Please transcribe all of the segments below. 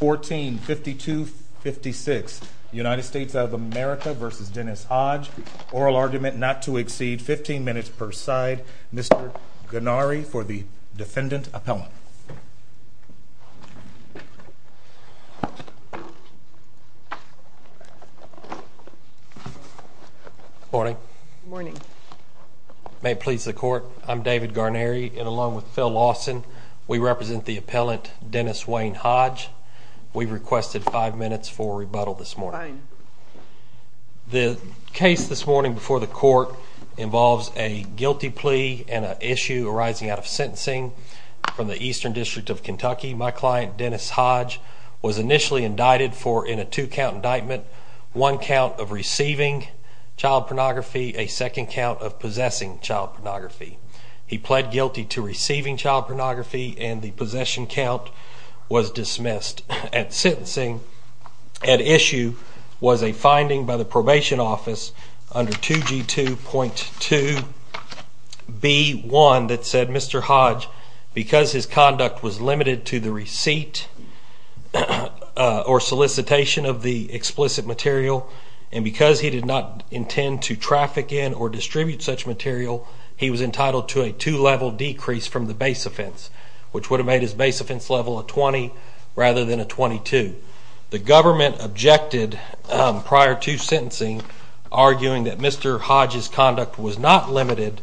1452-56 United States of America v. Dennis Hodge Oral Argument Not to Exceed 15 Minutes per Side Mr. Gennari for the Defendant Appellant Morning May it please the court I'm David Gennari and along with Phil Lawson we represent the Appellant Dennis Wayne Hodge. We've requested five minutes for rebuttal this morning. The case this morning before the court involves a guilty plea and an issue arising out of sentencing from the Eastern District of Kentucky. My client Dennis Hodge was initially indicted for in a two count indictment. One count of guilty to receiving child pornography and the possession count was dismissed. At issue was a finding by the probation office under 2G2.2B1 that said Mr. Hodge because his conduct was limited to the receipt or solicitation of the explicit material and because he did not intend to traffic in or distribute such material he was entitled to a two level decrease from the base offense which would have made his base offense level a 20 rather than a 22. The government objected prior to sentencing arguing that Mr. Hodge's conduct was not limited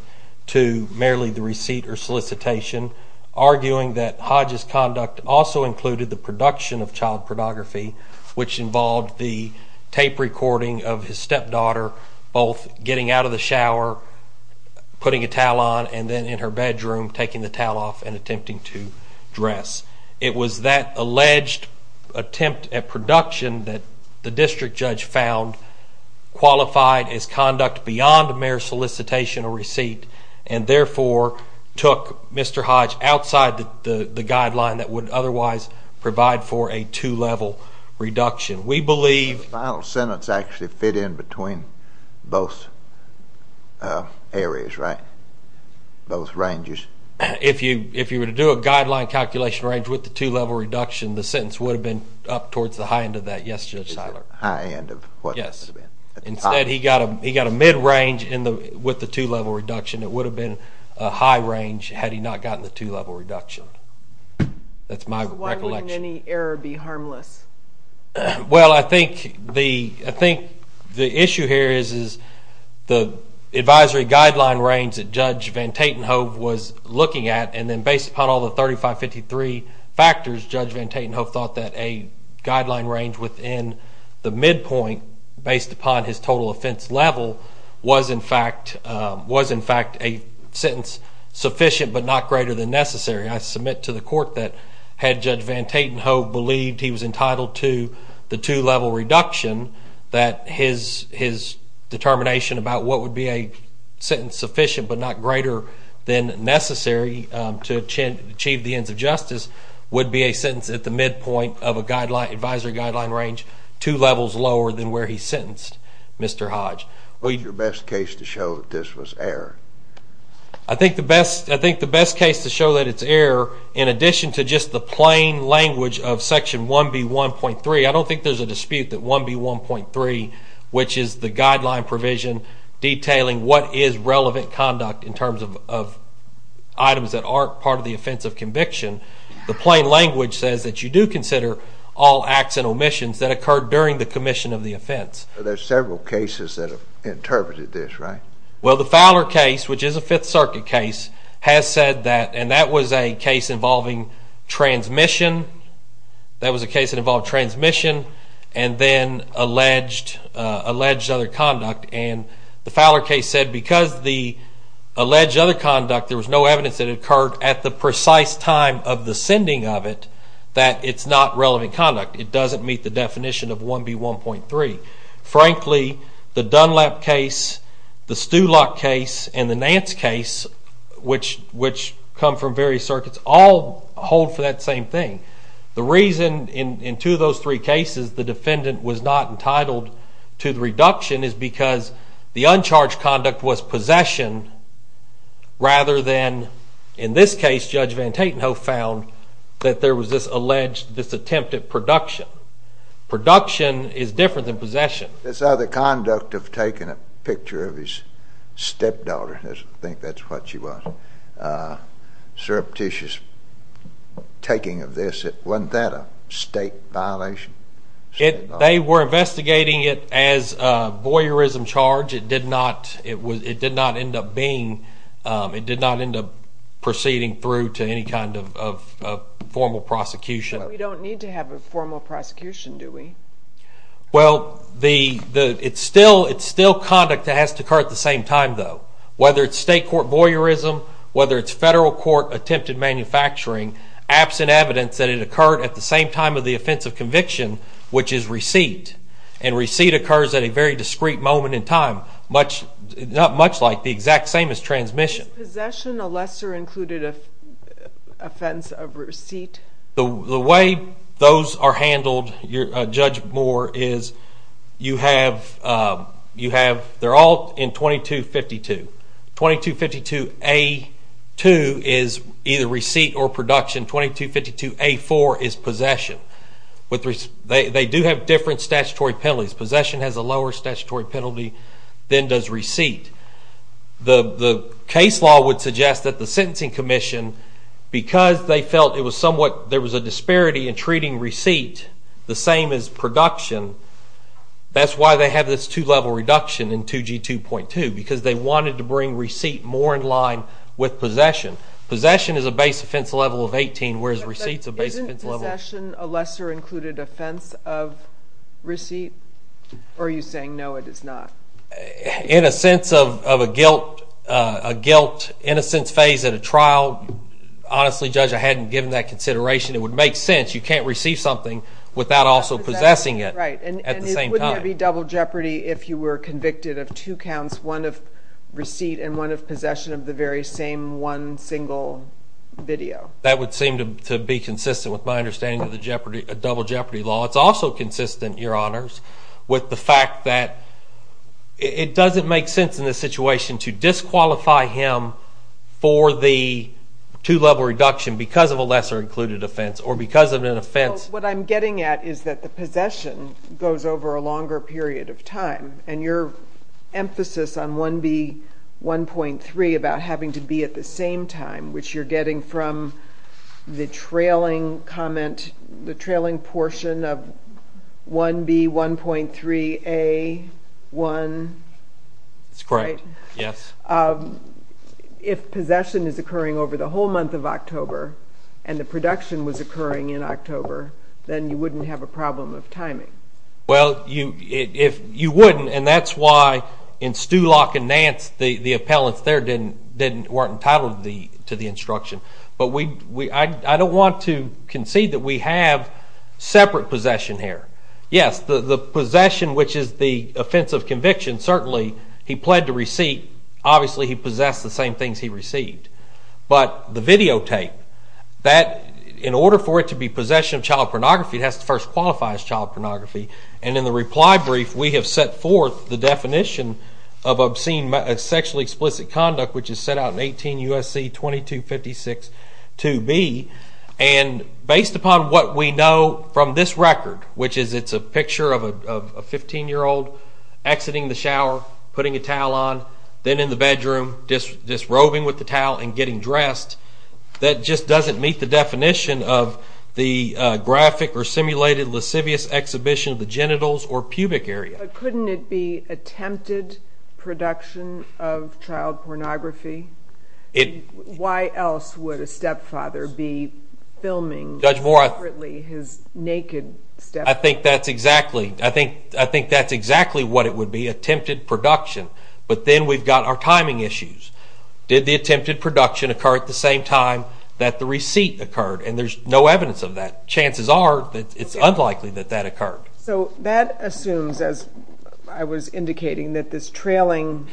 to merely the receipt or solicitation arguing that Hodge's conduct also included the production of child pornography which involved the tape recording of his stepdaughter both getting out of the shower, putting a towel on and then in her bedroom taking the towel off and attempting to dress. It was that alleged attempt at production that the district judge found qualified as conduct beyond mere solicitation or receipt and therefore took Mr. Hodge outside the guideline that would otherwise provide for a two level reduction. We believe... The final sentence actually fit in between both areas, right? Both ranges. If you were to do a guideline calculation range with the two level reduction the sentence would have been up towards the high end of that, yes Judge Seiler. High end of what? Yes. Instead he got a mid range with the two level reduction. It would have been a high range had he not gotten the two level reduction. That's my recollection. Why wouldn't any error be harmless? Well I think the issue here is the advisory guideline range that Judge Van Tatenhove was looking at and then based upon all the 3553 factors Judge Van Tatenhove thought that a guideline range within the midpoint based upon his total offense level was in fact a sentence sufficient but not greater than necessary. I submit to the court that had Judge Van Tatenhove believed he was entitled to the two level reduction that his determination about what would be a sentence sufficient but not greater than necessary to achieve the ends of justice would be a sentence at the midpoint of a advisory guideline range two levels lower than where he sentenced Mr. Hodge. What is your best case to show that this was error? I think the best case to show that it's error in addition to just the plain language of section 1B1.3, I don't think there's a dispute that 1B1.3 which is the guideline provision detailing what is relevant conduct in terms of items that aren't part of the offense of conviction, the plain language says that you do consider all acts and omissions that occurred during the commission of the offense. There are several cases that have interpreted this, right? Well the Fowler case, which is a 5th Circuit case, has said that, and that was a case involving transmission, that was a case that involved transmission and then alleged other conduct and the Fowler case said because the alleged other conduct there was no evidence that occurred at the precise time of the sending of it that it's not relevant conduct, it doesn't meet the definition of 1B1.3. Frankly, the Dunlap case, the Stulak case, and the Nance case, which come from various circuits all hold for that same thing. The reason in two of those three cases the defendant was not entitled to the reduction is because the uncharged conduct was possession rather than, in this case Judge Van Tatenhove found that there was this alleged, this attempt at production. Production is different than possession. This other conduct of taking a picture of his stepdaughter, I think that's what she was, Sir Petitius taking of this, wasn't that a state violation? They were investigating it as a voyeurism charge, it did not end up being, it did not end up proceeding through to any kind of formal prosecution. But we don't need to have a formal prosecution, do we? Well, it's still conduct that has to occur at the same time though. Whether it's state court voyeurism, whether it's federal court attempted manufacturing, absent evidence that it occurred at the same time of the offense of conviction, which is receipt, and receipt occurs at a very discreet moment in time, not much like the exact same as transmission. Is possession a lesser included offense of receipt? The way those are handled, Judge Moore, is you have, they're all in 2252, 2252A2 is either receipt or production, 2252A4 is possession. They do have different statutory penalties. Possession has a lower statutory penalty than does receipt. The case law would suggest that the sentencing commission, because they felt it was somewhat, there was a disparity in treating receipt the same as production, that's why they have this two-level reduction in 2G2.2, because they wanted to bring receipt more in line with possession. Possession is a base offense level of 18, whereas receipt's a base offense level. But isn't possession a lesser included offense of receipt, or are you saying no, it is not? In a sense of a guilt, innocence phase at a trial, honestly, Judge, I hadn't given that consideration. It would make sense. You can't receive something without also possessing it at the same time. Right. And wouldn't there be double jeopardy if you were convicted of two counts, one of receipt and one of possession of the very same one single video? That would seem to be consistent with my understanding of the double jeopardy law. It's also consistent, Your Honors, with the fact that it doesn't make sense in this situation to disqualify him for the two-level reduction because of a lesser included offense or because of an offense. What I'm getting at is that the possession goes over a longer period of time, and your emphasis on 1B1.3 about having to be at the same time, which you're getting from the trailing portion of 1B1.3A1. That's correct, yes. If possession is occurring over the whole month of October, and the production was occurring in October, then you wouldn't have a problem of timing. Well, you wouldn't, and that's why in Stulock and Nance, the appellants there weren't entitled to the instruction. But I don't want to concede that we have separate possession here. Yes, the possession, which is the offense of conviction, certainly he pled to receipt. Obviously he possessed the same things he received. But the videotape, in order for it to be possession of child pornography, it has to first qualify as child pornography. And in the reply brief, we have set forth the definition of sexually explicit conduct, which is set out in 18 U.S.C. 2256-2B. And based upon what we know from this record, which is it's a picture of a 15-year-old exiting the shower, putting a towel on, then in the bedroom, just roving with the towel and getting dressed, that just doesn't meet the definition of the graphic or simulated lascivious exhibition of the genitals or pubic area. But couldn't it be attempted production of child pornography? Why else would a stepfather be filming separately his naked stepfather? I think that's exactly what it would be, attempted production. But then we've got our timing issues. Did the attempted production occur at the same time that the receipt occurred? And there's no evidence of that. Chances are that it's unlikely that that occurred. So that assumes, as I was indicating, that this trailing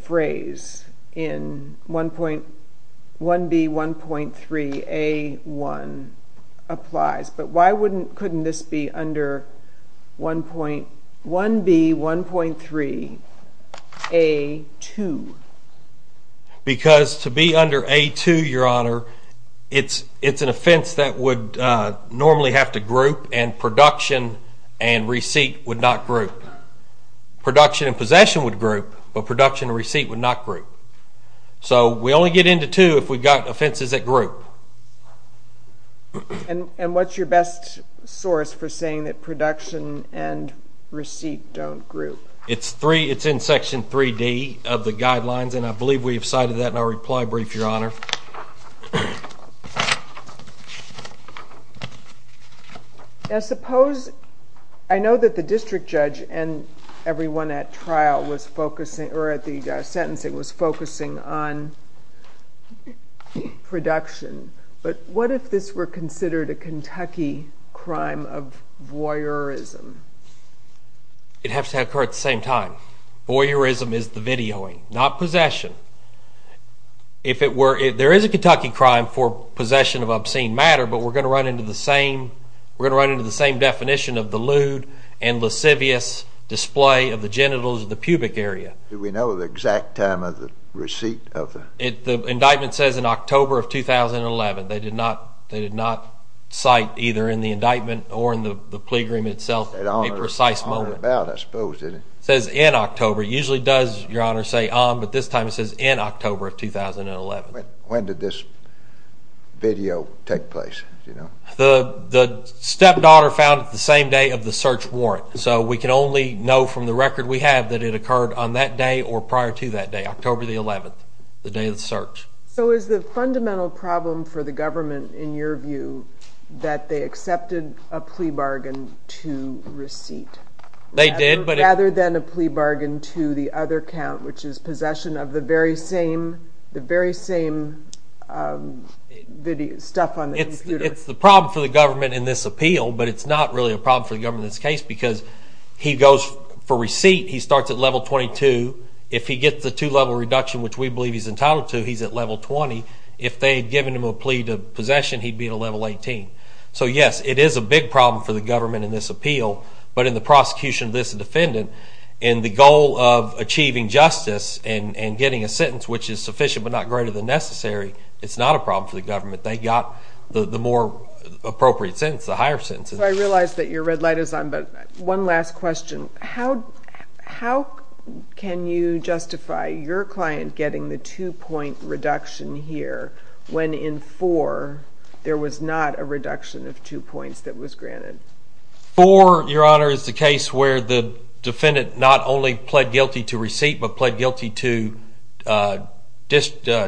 phrase in 1B1.3A1 applies. But why couldn't this be under 1B1.3A2? Because to be under A2, Your Honor, it's an offense that would normally have to group and production and receipt would not group. Production and possession would group, but production and receipt would not group. So we only get into 2 if we've got offenses that group. And what's your best source for saying that production and receipt don't group? It's in Section 3D of the guidelines, and I believe we've cited that in our reply brief, Your Honor. Now suppose, I know that the district judge and everyone at the sentencing was focusing on production, but what if this were considered a Kentucky crime of voyeurism? It has to occur at the same time. Voyeurism is the videoing, not possession. If it were, there is a Kentucky crime for possession of obscene matter, but we're going to run into the same definition of the lewd and lascivious display of the genitals of the pubic area. Do we know the exact time of the receipt? The indictment says in October of 2011. They did not cite either in the indictment or in the plea agreement itself a precise moment. It says in October. It usually does, Your Honor, say on, but this time it says in October of 2011. When did this video take place? The stepdaughter found it the same day of the search warrant, so we can only know from the record we have that it occurred on that day or prior to that day, October the 11th, the day of the search. So is the fundamental problem for the government, in your view, that they accepted a plea bargain to receipt? They did. Rather than a plea bargain to the other count, which is possession of the very same stuff on the computer. It's the problem for the government in this appeal, but it's not really a problem for the government in this case because he goes for receipt, he starts at level 22. If he gets the two-level reduction, which we believe he's entitled to, he's at level 20. If they had given him a plea to possession, he'd be at a level 18. So yes, it is a big problem for the government in this appeal, but in the prosecution of this defendant, in the goal of achieving justice and getting a sentence which is sufficient but not greater than necessary, it's not a problem for the government. They got the more appropriate sentence, the higher sentence. So I realize that your red light is on, but one last question. How can you justify your client getting the two-point reduction here when in 4 there was not a reduction of two points that was granted? 4, your honor, is the case where the defendant not only pled guilty to receipt, but pled guilty to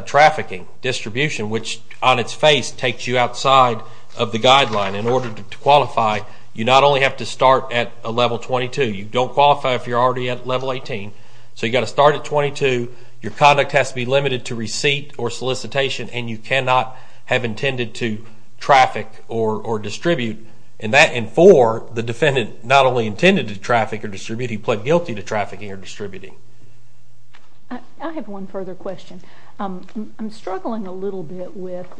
trafficking, distribution, which on its face takes you outside of the guideline. In order to qualify, you not only have to start at a level 22. You don't qualify if you're already at level 18, so you've got to start at 22. Your conduct has to be limited to receipt or solicitation, and you cannot have intended to traffic or distribute. In that, in 4, the defendant not only intended to traffic or distribute, he pled guilty to trafficking or distributing. I have one further question. I'm struggling a little bit with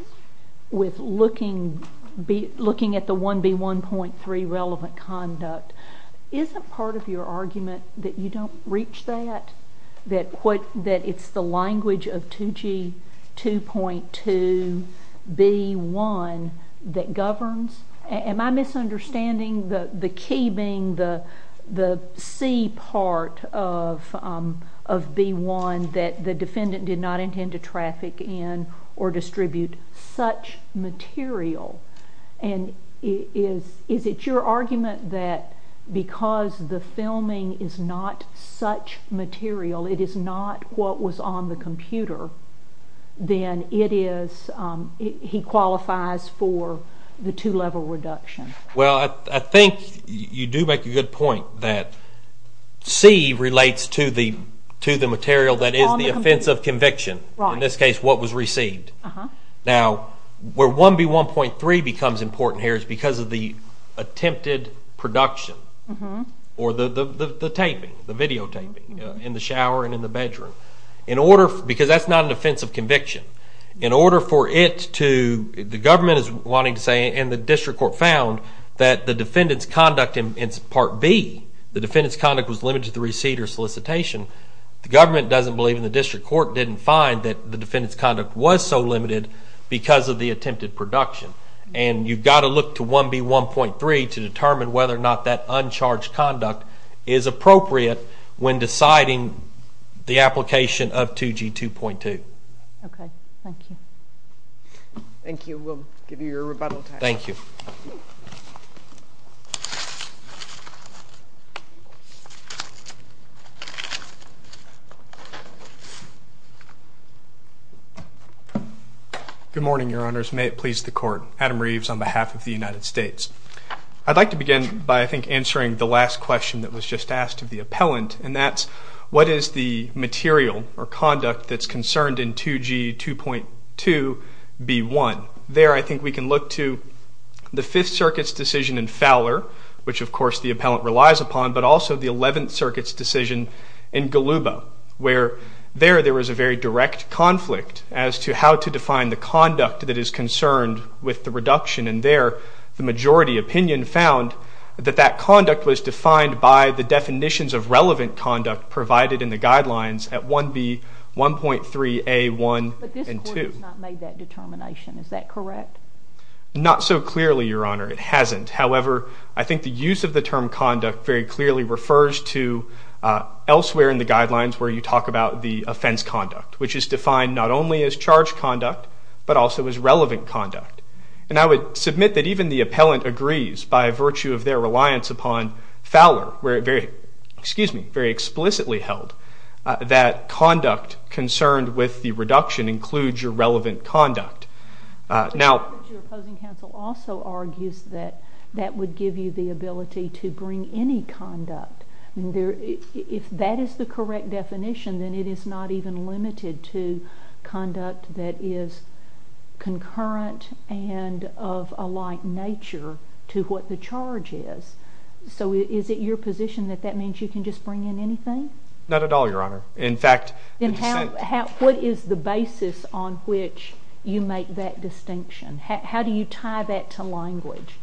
looking at the 1B1.3 relevant conduct. Isn't part of your argument that you don't reach that, that it's the language of 2G2.2B1 that governs? Am I misunderstanding the key being the C part of B1 that the defendant did not intend to traffic in or distribute such material? Is it your argument that because the filming is not such material, it is not what was on the computer, then it is, he qualifies for the two-level reduction? Well, I think you do make a good point that C relates to the material that is the offense of conviction. In this case, what was received. Now, where 1B1.3 becomes important here is because of the attempted production or the taping, the videotaping in the shower and in the bedroom. In order, because that's not an offense of conviction, in order for it to, the government is wanting to say, and the district court found that the defendant's conduct in part B, the defendant's conduct was limited to the receipt or solicitation, the government doesn't believe and the district court didn't find that the defendant's conduct was so limited because of the attempted production. And you've got to look to 1B1.3 to determine whether or not that uncharged conduct is appropriate when deciding the application of 2G2.2. Okay. Thank you. Thank you. We'll give you your rebuttal time. Thank you. Good morning, Your Honors. May it please the Court. Adam Reeves on behalf of the United States. I'd like to begin by, I think, answering the last question that was just asked of the appellant and that's, what is the material or conduct that's concerned in 2G2.2B1? There I think we can look to the Fifth Circuit's decision in Fowler, which of course the appellant relies upon, but also the Eleventh Circuit's decision in Golubow, where there, there was a very direct conflict as to how to define the conduct that is concerned with the reduction and there, the majority opinion found that that conduct was defined by the definitions of relevant conduct provided in the guidelines at 1B1.3A1 and 2. But this Court has not made that determination, is that correct? Not so clearly, Your Honor. It hasn't. However, I think the use of the term conduct very clearly refers to elsewhere in the guidelines where you talk about the offense conduct, which is defined not only as charged conduct, but also as relevant conduct. And I would submit that even the appellant agrees by virtue of their reliance upon Fowler, where it very, excuse me, very explicitly held that conduct concerned with the reduction includes your relevant conduct. Now. Your opposing counsel also argues that that would give you the ability to bring any conduct. I mean, if that is the correct definition, then it is not even limited to conduct that is concurrent and of a like nature to what the charge is. So is it your position that that means you can just bring in anything? Not at all, Your Honor. In fact. Then how, what is the basis on which you make that distinction? How do you tie that to language?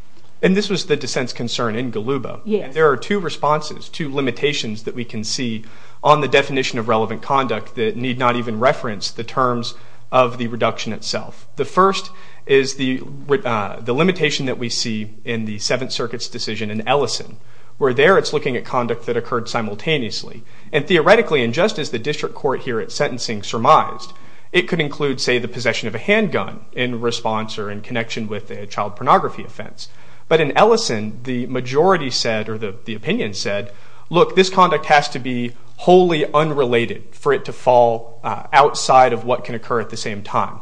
And this was the dissent's concern in Galuba. Yes. There are two responses, two limitations that we can see on the definition of relevant conduct that need not even reference the terms of the reduction itself. The first is the limitation that we see in the Seventh Circuit's decision in Ellison, where there it's looking at conduct that occurred simultaneously. And theoretically, and just as the district court here at sentencing surmised, it could include, say, the possession of a handgun in response or in connection with a child pornography offense. But in Ellison, the majority said, or the opinion said, look, this conduct has to be wholly unrelated for it to fall outside of what can occur at the same time.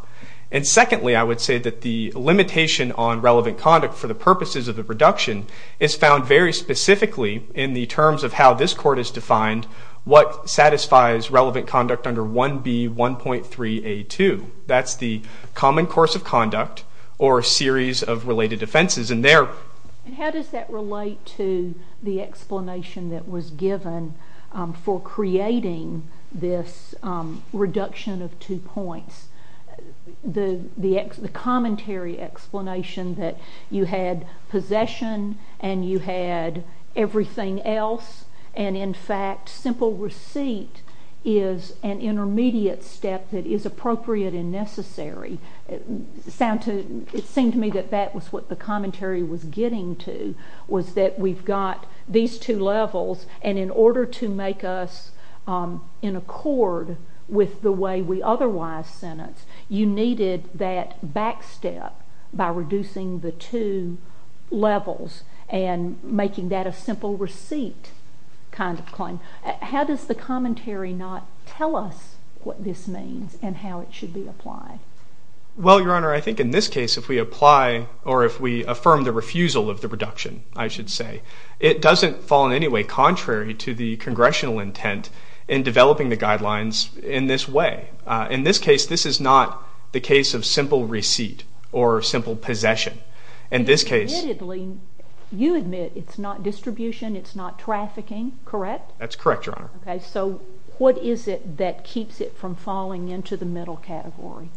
And secondly, I would say that the limitation on relevant conduct for the purposes of the reduction is found very specifically in the terms of how this court has defined what satisfies relevant conduct under 1B1.3A2. That's the common course of conduct or series of related offenses. And how does that relate to the explanation that was given for creating this reduction of two points? The commentary explanation that you had possession and you had everything else, and in fact, simple receipt is an intermediate step that is appropriate and necessary. It seemed to me that that was what the commentary was getting to, was that we've got these two levels, and in order to make us in accord with the way we otherwise sentence, you needed that back step by reducing the two levels and making that a simple receipt kind of claim. How does the commentary not tell us what this means and how it should be applied? Well, Your Honor, I think in this case, if we apply, or if we affirm the refusal of the reduction, I should say, it doesn't fall in any way contrary to the congressional intent in developing the guidelines in this way. In this case, this is not the case of simple receipt or simple possession. In this case you admit it's not distribution, it's not trafficking, correct? That's correct, Your Honor. Okay, so what is it that keeps it from falling into the middle category?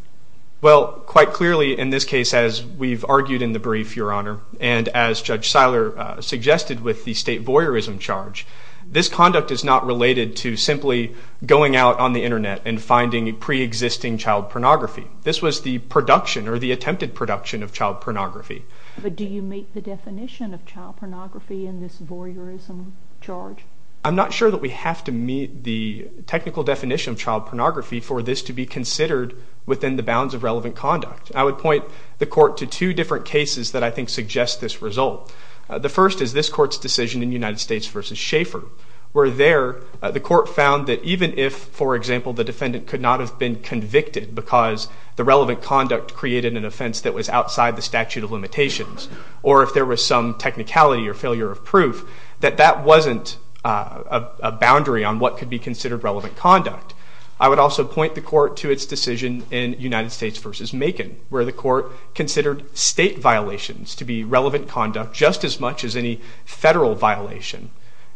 Well, quite clearly in this case, as we've argued in the brief, Your Honor, and as Judge Seiler suggested with the state voyeurism charge, this conduct is not related to simply going out on the internet and finding pre-existing child pornography. This was the production or the attempted production of child pornography. But do you meet the definition of child pornography in this voyeurism charge? I'm not sure that we have to meet the technical definition of child pornography for this to be considered within the bounds of relevant conduct. I would point the court to two different cases that I think suggest this result. The first is this court's decision in United States v. Schaeffer, where there the court found that even if, for example, the defendant could not have been convicted because the relevant conduct created an offense that was outside the statute of limitations or if there was some technicality or failure of proof, that that wasn't a boundary on what could be considered relevant conduct. I would also point the court to its decision in United States v. Macon, where the court considered state violations to be relevant conduct just as much as any federal violation.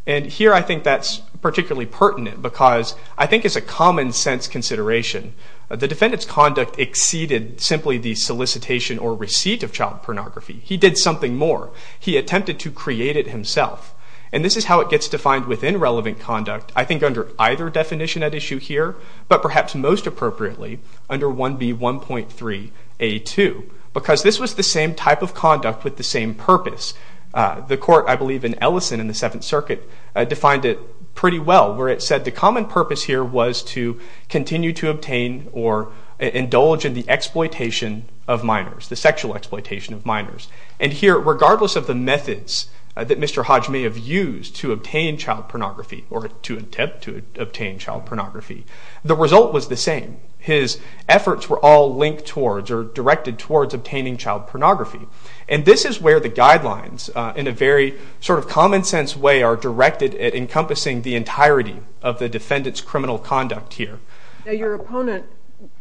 And here I think that's particularly pertinent because I think it's a common sense consideration. The defendant's conduct exceeded simply the solicitation or receipt of child pornography. He did something more. He attempted to create it himself. And this is how it gets defined within relevant conduct. I think under either definition at issue here, but perhaps most appropriately under 1B1.3A2, because this was the same type of conduct with the same purpose. The court, I believe in Ellison in the Seventh Circuit, defined it pretty well, where it said the common purpose here was to continue to obtain or indulge in the exploitation of minors, the sexual exploitation of minors. And here, regardless of the methods that Mr. Hodge may have used to obtain child pornography or to attempt to obtain child pornography, the result was the same. His efforts were all linked towards or directed towards obtaining child pornography. And this is where the guidelines in a very sort of common sense way are directed at encompassing the entirety of the defendant's criminal conduct here. Now, your opponent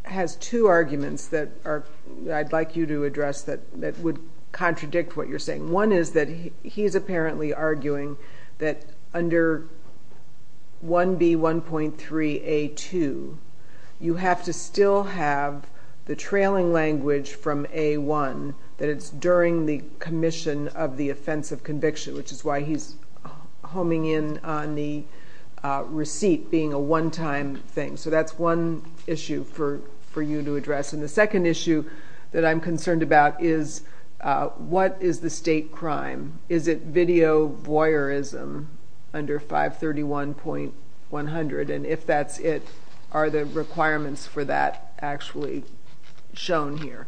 has two arguments that I'd like you to address that would contradict what you're saying. One is that he's apparently arguing that under 1B1.3A2, you have to still have the trailing language from A1 that it's during the commission of the offense of conviction, which is why he's homing in on the receipt being a one-time thing. So that's one issue for you to address. And the second issue that I'm concerned about is what is the state crime? Is it video voyeurism under 531.100? And if that's it, are the requirements for that actually shown here?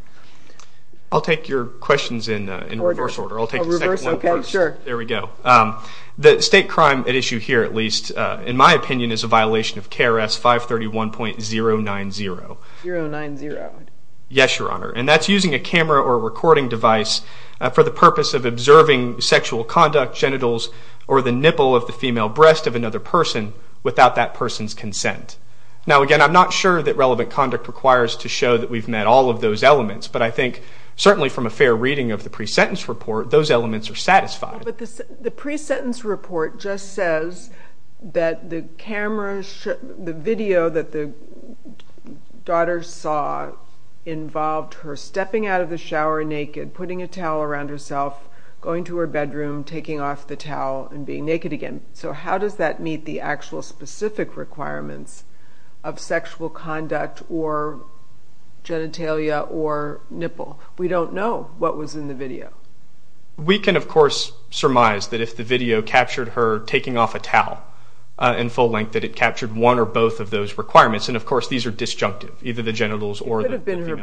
I'll take your questions in reverse order. I'll take the second one first. There we go. The state crime at issue here, at least, in my opinion, is a violation of KRS 531.090. Yes, Your Honor. And that's using a camera or a recording device for the purpose of observing sexual conduct, genitals, or the nipple of the female breast of another person without that person's consent. Now, again, I'm not sure that relevant conduct requires to show that we've met all of those elements, but I think certainly from a fair reading of the pre-sentence report, those elements are satisfied. But the pre-sentence report just says that the video that the daughter saw involved her stepping out of the shower naked, putting a towel around herself, going to her bedroom, taking off the towel, and being naked again. So how does that meet the actual specific requirements of sexual conduct or genitalia or nipple? We don't know what was in the video. We can, of course, surmise that if the video captured her taking off a towel in full length that it captured one or both of those requirements. And, of course, these are disjunctive, either the genitals or the female breast. It could have been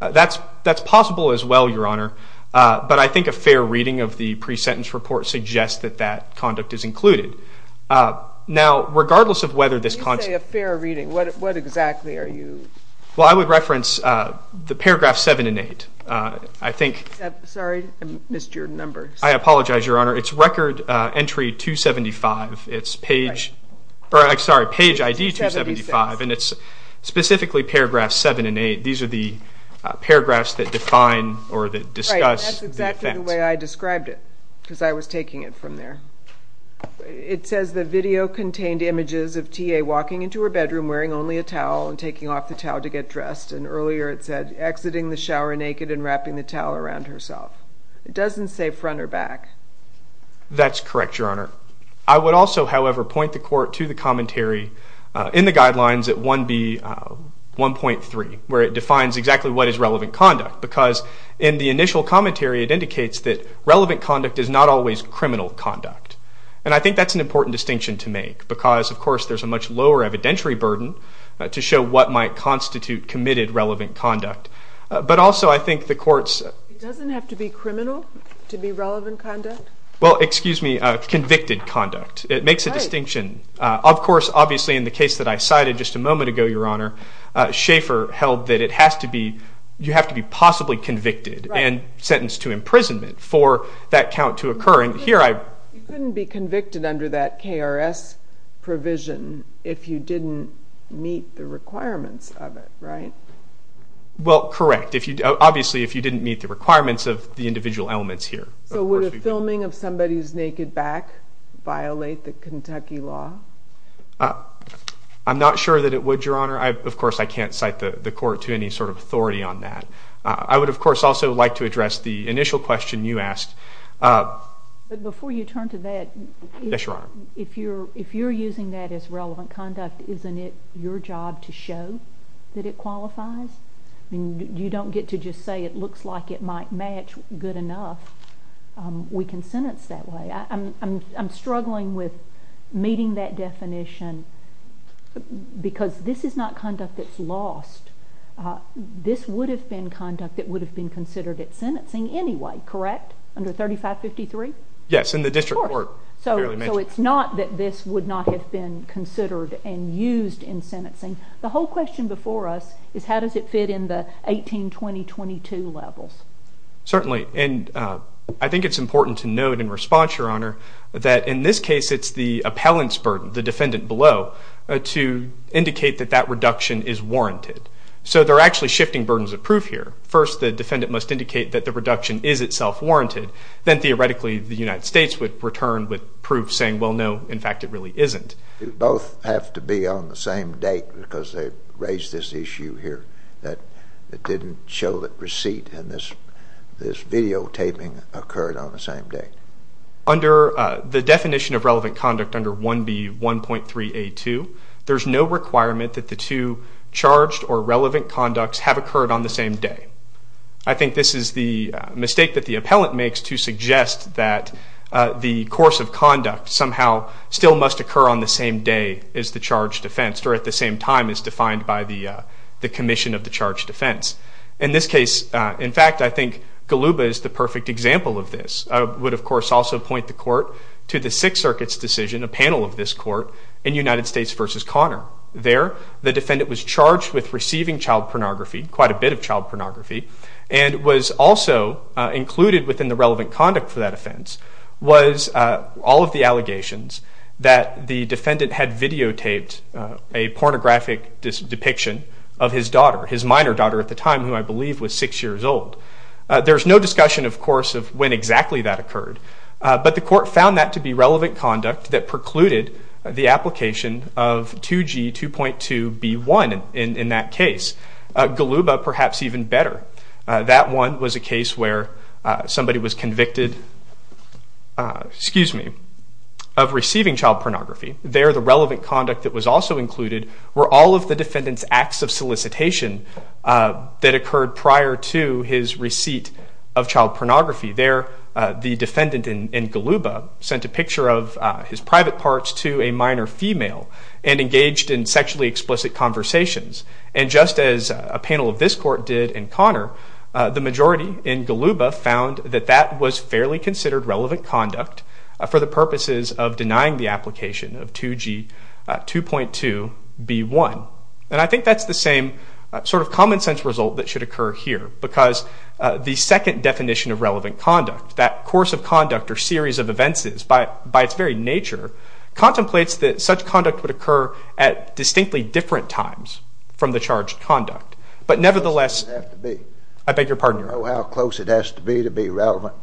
her back. That's possible as well, Your Honor. But I think a fair reading of the pre-sentence report suggests that that conduct is included. Now, regardless of whether this concept... When you say a fair reading, what exactly are you... Well, I would reference the paragraphs 7 and 8. I think... Sorry, I missed your numbers. I apologize, Your Honor. It's Record Entry 275. It's Page... Sorry, Page ID 275. And it's specifically paragraphs 7 and 8. These are the paragraphs that define or that discuss the event. Right. That's exactly the way I described it because I was taking it from there. It says the video contained images of T.A. walking into her bedroom wearing only a towel and taking off the towel to get dressed. And earlier it said exiting the shower naked and wrapping the towel around herself. It doesn't say front or back. That's correct, Your Honor. I would also, however, point the court to the commentary in the guidelines at 1B1.3 where it defines exactly what is relevant conduct because in the initial commentary it indicates that relevant conduct is not always criminal conduct. And I think that's an important distinction to make because, of course, there's a much lower evidentiary burden to show what might constitute committed relevant conduct. But also I think the courts... It doesn't have to be criminal to be relevant conduct? Well, excuse me, convicted conduct. It makes a distinction. Of course, obviously in the case that I cited just a moment ago, Your Honor, Schaefer held that it has to be... You have to be possibly convicted and sentenced to imprisonment for that count to occur. And here I... You couldn't be convicted under that KRS provision if you didn't meet the requirements of it, right? Well, correct. Obviously, if you didn't meet the requirements of the individual elements here. So would a filming of somebody's naked back violate the Kentucky law? I'm not sure that it would, Your Honor. Of course, I can't cite the court to any sort of authority on that. I would, of course, also like to address the initial question you asked. But before you turn to that... Yes, Your Honor. If you're using that as relevant conduct, isn't it your job to show that it qualifies? I mean, you don't get to just say it looks like it might match good enough. We can sentence that way. I'm struggling with meeting that definition because this is not conduct that's lost. This would have been conduct that would have been considered at sentencing anyway, correct? Under 3553? Yes, in the district court. So it's not that this would not have been considered and used in sentencing. The whole question before us is how does it fit in the 18-20-22 levels? Certainly. And I think it's important to note in response, Your Honor, that in this case it's the appellant's burden, the defendant below, to indicate that that reduction is warranted. So they're actually shifting burdens of proof here. First, the defendant must indicate that the reduction is itself warranted. Then theoretically, the United States would return with proof saying, well, no, in fact, it really isn't. They both have to be on the same date because they raised this issue here that didn't show that receipt and this videotaping occurred on the same date. Under the definition of relevant conduct under 1B1.3A2, there's no requirement that the two charged or relevant conducts have occurred on the same day. I think this is the mistake that the appellant makes to suggest that the course of conduct somehow still must occur on the same day as the charged offense or at the same time as defined by the commission of the charged offense. In this case, in fact, I think Goluba is the perfect example of this. I would, of course, also point the court to the Sixth Circuit's decision, a panel of this court, in United States v. Connor. There, the defendant was charged with receiving child pornography, quite a bit of child pornography, and was also included within the relevant conduct for that offense was all of the allegations that the defendant had videotaped a pornographic depiction of his daughter, his minor daughter at the time, who I believe was six years old. There's no discussion, of course, of when exactly that occurred. But the court found that to be relevant conduct that precluded the application of 2G2.2B1 in that case. Goluba, perhaps even better. That one was a case where somebody was convicted of receiving child pornography. There, the relevant conduct that was also included were all of the defendant's acts of solicitation that occurred prior to his receipt of child pornography. There, the defendant in Goluba sent a picture of his private parts to a minor female and engaged in sexually explicit conversations. And just as a panel of this court did in Connor, the majority in Goluba found that that was fairly considered relevant conduct for the purposes of denying the application of 2G2.2B1. And I think that's the same sort of common sense result that should occur here because the second definition of relevant conduct, that course of conduct or series of events by its very nature, contemplates that such conduct would occur at distinctly different times from the charge of conduct. But nevertheless, I beg your pardon. How close it has to be to be relevant?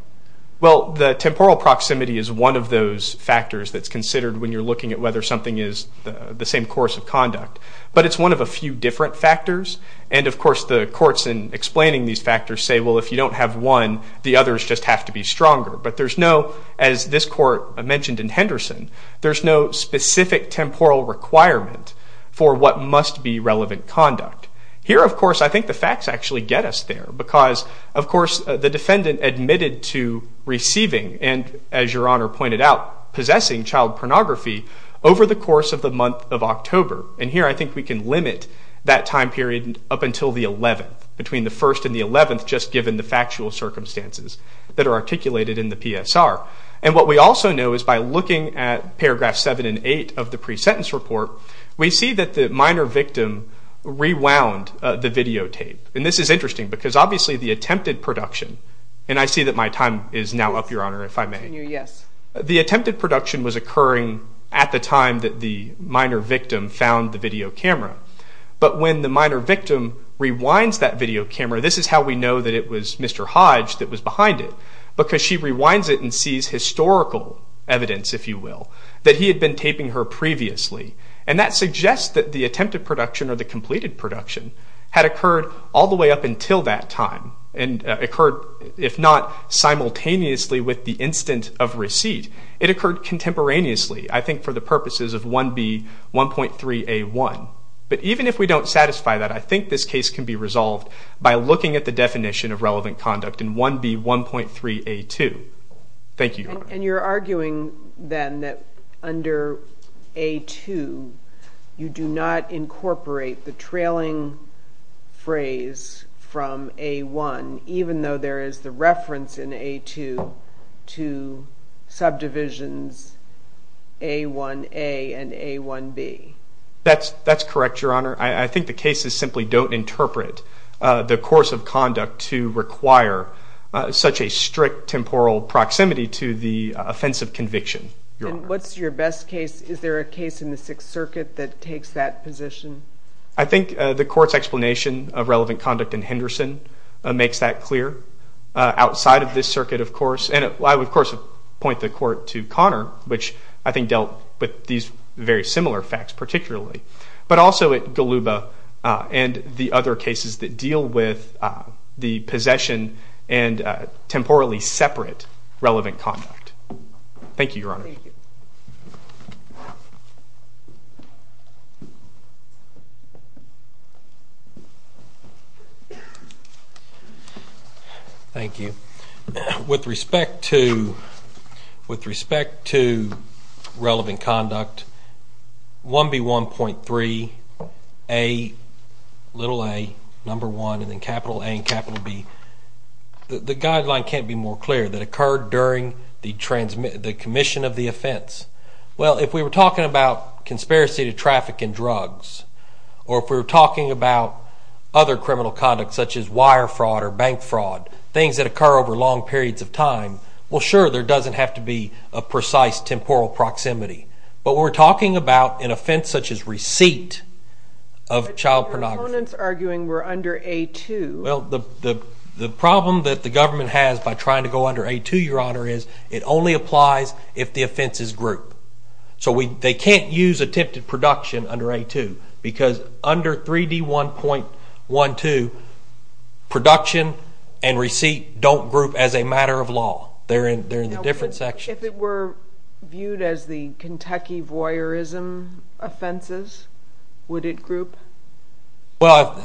Well, the temporal proximity is one of those factors that's considered when you're looking at whether something is the same course of conduct. But it's one of a few different factors. And of course, the courts in explaining these factors say, well, if you don't have one, the others just have to be stronger. But there's no, as this court mentioned in Henderson, there's no specific temporal requirement for what must be relevant conduct. Here, of course, I think the facts actually get us there because, of course, the defendant admitted to receiving and, as your Honor pointed out, possessing child pornography over the course of the month of October. And here, I think we can limit that time period up until the 11th, between the 1st and the 11th, just given the factual circumstances that are articulated in the PSR. And what we also know is by looking at paragraphs 7 and 8 of the pre-sentence report, we see that the minor victim rewound the videotape. And this is interesting because, obviously, the attempted production, and I see that my time is now up, your Honor, if I may. Yes. The attempted production was occurring at the time that the minor victim found the video camera. But when the minor victim rewinds that video camera, this is how we know that it was Mr. B's historical evidence, if you will, that he had been taping her previously. And that suggests that the attempted production or the completed production had occurred all the way up until that time and occurred, if not simultaneously, with the instant of receipt. It occurred contemporaneously, I think, for the purposes of 1B1.3A1. But even if we don't satisfy that, I think this case can be resolved by looking at the definition of relevant conduct in 1B1.3A2. Thank you, Your Honor. And you're arguing, then, that under A2, you do not incorporate the trailing phrase from A1, even though there is the reference in A2 to subdivisions A1A and A1B. That's correct, Your Honor. I think the cases simply don't interpret the course of conduct to require such a strict temporal proximity to the offensive conviction, Your Honor. And what's your best case? Is there a case in the Sixth Circuit that takes that position? I think the court's explanation of relevant conduct in Henderson makes that clear, outside of this circuit, of course. And I would, of course, point the court to Connor, which I think dealt with these very similar facts, particularly. But also at Goluba and the other cases that deal with the possession and temporally separate relevant conduct. Thank you, Your Honor. Thank you. Thank you. With respect to relevant conduct, 1B1.3, a, little a, number 1, and then capital A and capital B, the guideline can't be more clear, that occurred during the commission of the offense. Well, if we were talking about conspiracy to traffic and drugs, or if we were talking about other criminal conduct, such as wire fraud or bank fraud, things that occur over long periods of time, well, sure, there doesn't have to be a precise temporal proximity. But we're talking about an offense such as receipt of child pornography. But your opponent's arguing we're under A2. Well, the problem that the government has by trying to go under A2, Your Honor, is it only applies if the offense is group. So they can't use attempted production under A2, because under 3D1.12, production and receipt don't group as a matter of law. They're in the different sections. If it were viewed as the Kentucky voyeurism offenses, would it group? Well,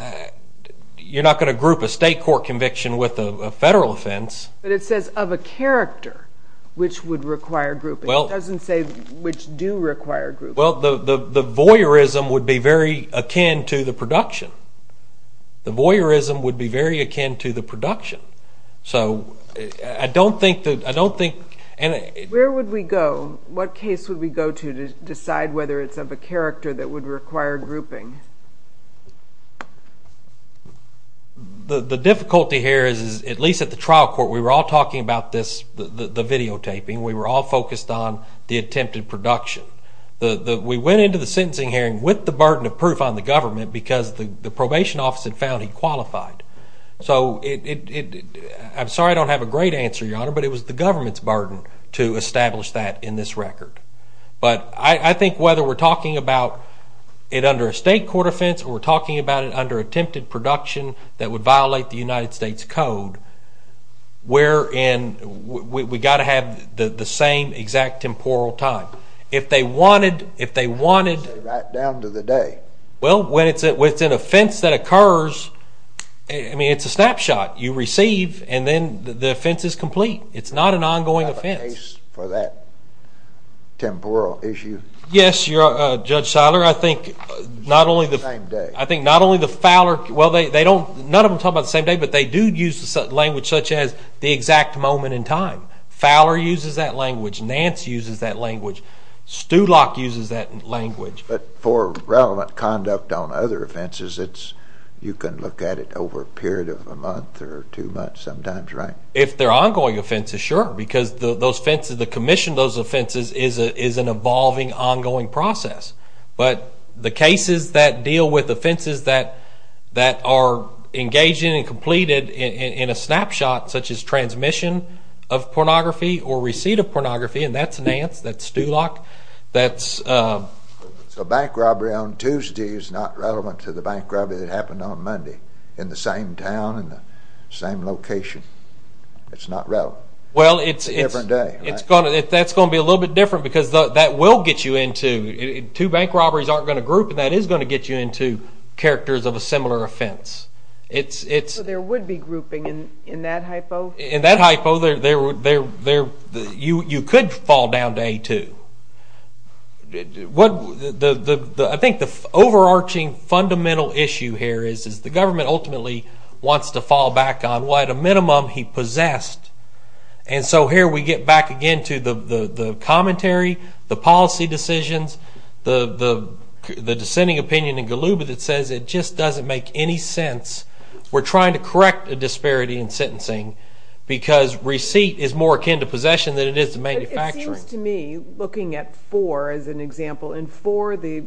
you're not going to group a state court conviction with a federal offense. But it says of a character, which would require grouping. It doesn't say which do require grouping. Well, the voyeurism would be very akin to the production. The voyeurism would be very akin to the production. So I don't think that, I don't think, and it. Where would we go? What case would we go to decide whether it's of a character that would require grouping? The difficulty here is, at least at the trial court, we were all talking about this, the videotaping, we were all focused on the attempted production. We went into the sentencing hearing with the burden of proof on the government, because the probation office had found he qualified. So it, I'm sorry I don't have a great answer, Your Honor, but it was the government's burden to establish that in this record. But I think whether we're talking about it under a state court offense, or we're talking about it under attempted production that would violate the United States Code, we're in, we got to have the same exact temporal time. If they wanted, if they wanted. Right down to the day. Well, when it's an offense that occurs, I mean, it's a snapshot. You receive, and then the offense is complete. It's not an ongoing offense. For that temporal issue. Yes, Judge Seiler, I think not only the Fowler, well, they don't, none of them talk about the same day, but they do use language such as the exact moment in time. Fowler uses that language. Nance uses that language. Stulock uses that language. But for relevant conduct on other offenses, it's, you can look at it over a period of a month or two months, sometimes, right? If they're ongoing offenses, sure. Because those offenses, the commission of those offenses is an evolving, ongoing process. But the cases that deal with offenses that are engaging and completed in a snapshot, such as transmission of pornography or receipt of pornography, and that's Nance, that's Stulock, that's a bank robbery on Tuesday is not relevant to the bank robbery that happened on Monday in the same town and the same location. It's not relevant. Well, it's a different day. It's going to, that's going to be a little bit different because that will get you into, two bank robberies aren't going to group and that is going to get you into characters of a similar offense. It's, it's. There would be grouping in that hypo. In that hypo, there, there, there, there, you, you could fall down to A2. What the, the, the, the, I think the overarching fundamental issue here is, is the government ultimately wants to fall back on what, at a minimum, he possessed. And so here we get back again to the, the, the commentary, the policy decisions, the, the, the dissenting opinion in Galuba that says it just doesn't make any sense. We're trying to correct a disparity in sentencing because receipt is more akin to possession than it is to manufacturing. It seems to me, looking at four as an example, in four, the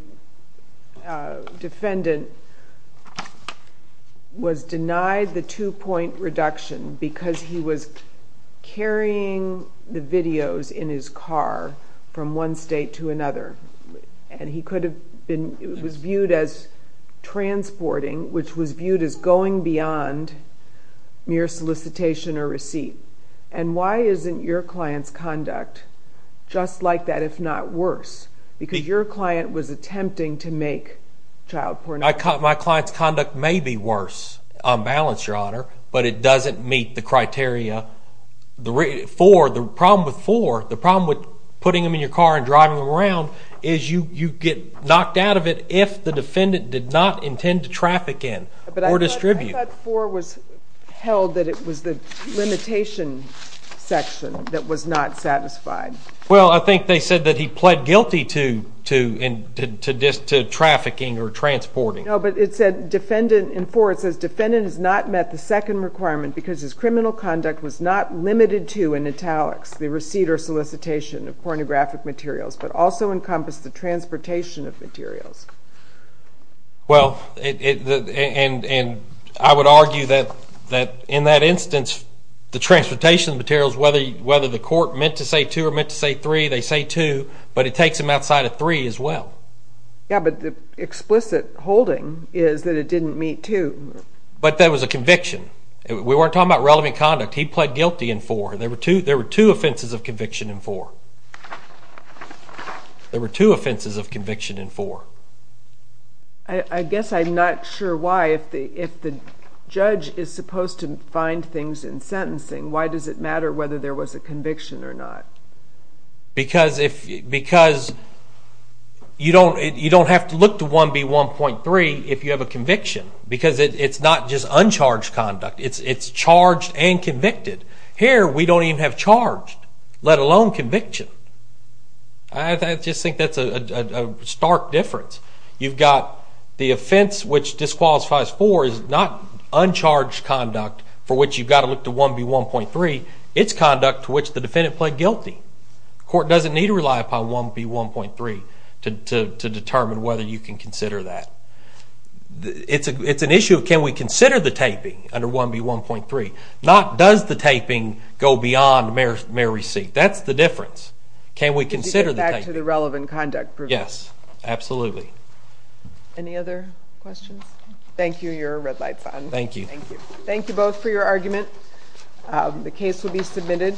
defendant was denied the two point reduction because he was carrying the videos in his car from one state to another. And he could have been, it was viewed as transporting, which was viewed as going beyond mere solicitation or receipt. And why isn't your client's conduct just like that, if not worse? Because your client was attempting to make child pornography. My client's conduct may be worse on balance, your honor, but it doesn't meet the criteria for, the problem with four, the problem with putting them in your car and driving them around is you, you get knocked out of it if the defendant did not intend to traffic in or distribute. But I thought four was held that it was the limitation section that was not satisfied. Well, I think they said that he pled guilty to, to, to, to, to this, to trafficking or transporting. No, but it said defendant in four, it says, defendant has not met the second requirement because his criminal conduct was not limited to, in italics, the receipt or solicitation of pornographic materials, but also encompassed the transportation of materials. Well, it, it, and, and I would argue that, that in that instance, the transportation of materials, whether, whether the court meant to say two or meant to say three, they say two, but it takes them outside of three as well. Yeah, but the explicit holding is that it didn't meet two. But that was a conviction. We weren't talking about relevant conduct. He pled guilty in four. There were two, there were two offenses of conviction in four. There were two offenses of conviction in four. I, I guess I'm not sure why, if the, if the judge is supposed to find things in sentencing, why does it matter whether there was a conviction or not? Because if, because you don't, you don't have to look to 1B1.3 if you have a conviction, because it, it's not just uncharged conduct. It's, it's charged and convicted. Here, we don't even have charged, let alone conviction. I, I just think that's a, a, a stark difference. You've got the offense, which disqualifies four, is not uncharged conduct for which you've got to look to 1B1.3. It's conduct to which the defendant pled guilty. Court doesn't need to rely upon 1B1.3 to, to, to determine whether you can consider that. It's a, it's an issue of can we consider the taping under 1B1.3? Not does the taping go beyond mere, mere receipt? That's the difference. Can we consider the taping? To get back to the relevant conduct proving. Yes, absolutely. Any other questions? Thank you, your red light's on. Thank you. Thank you. Thank you both for your argument. The case will be submitted.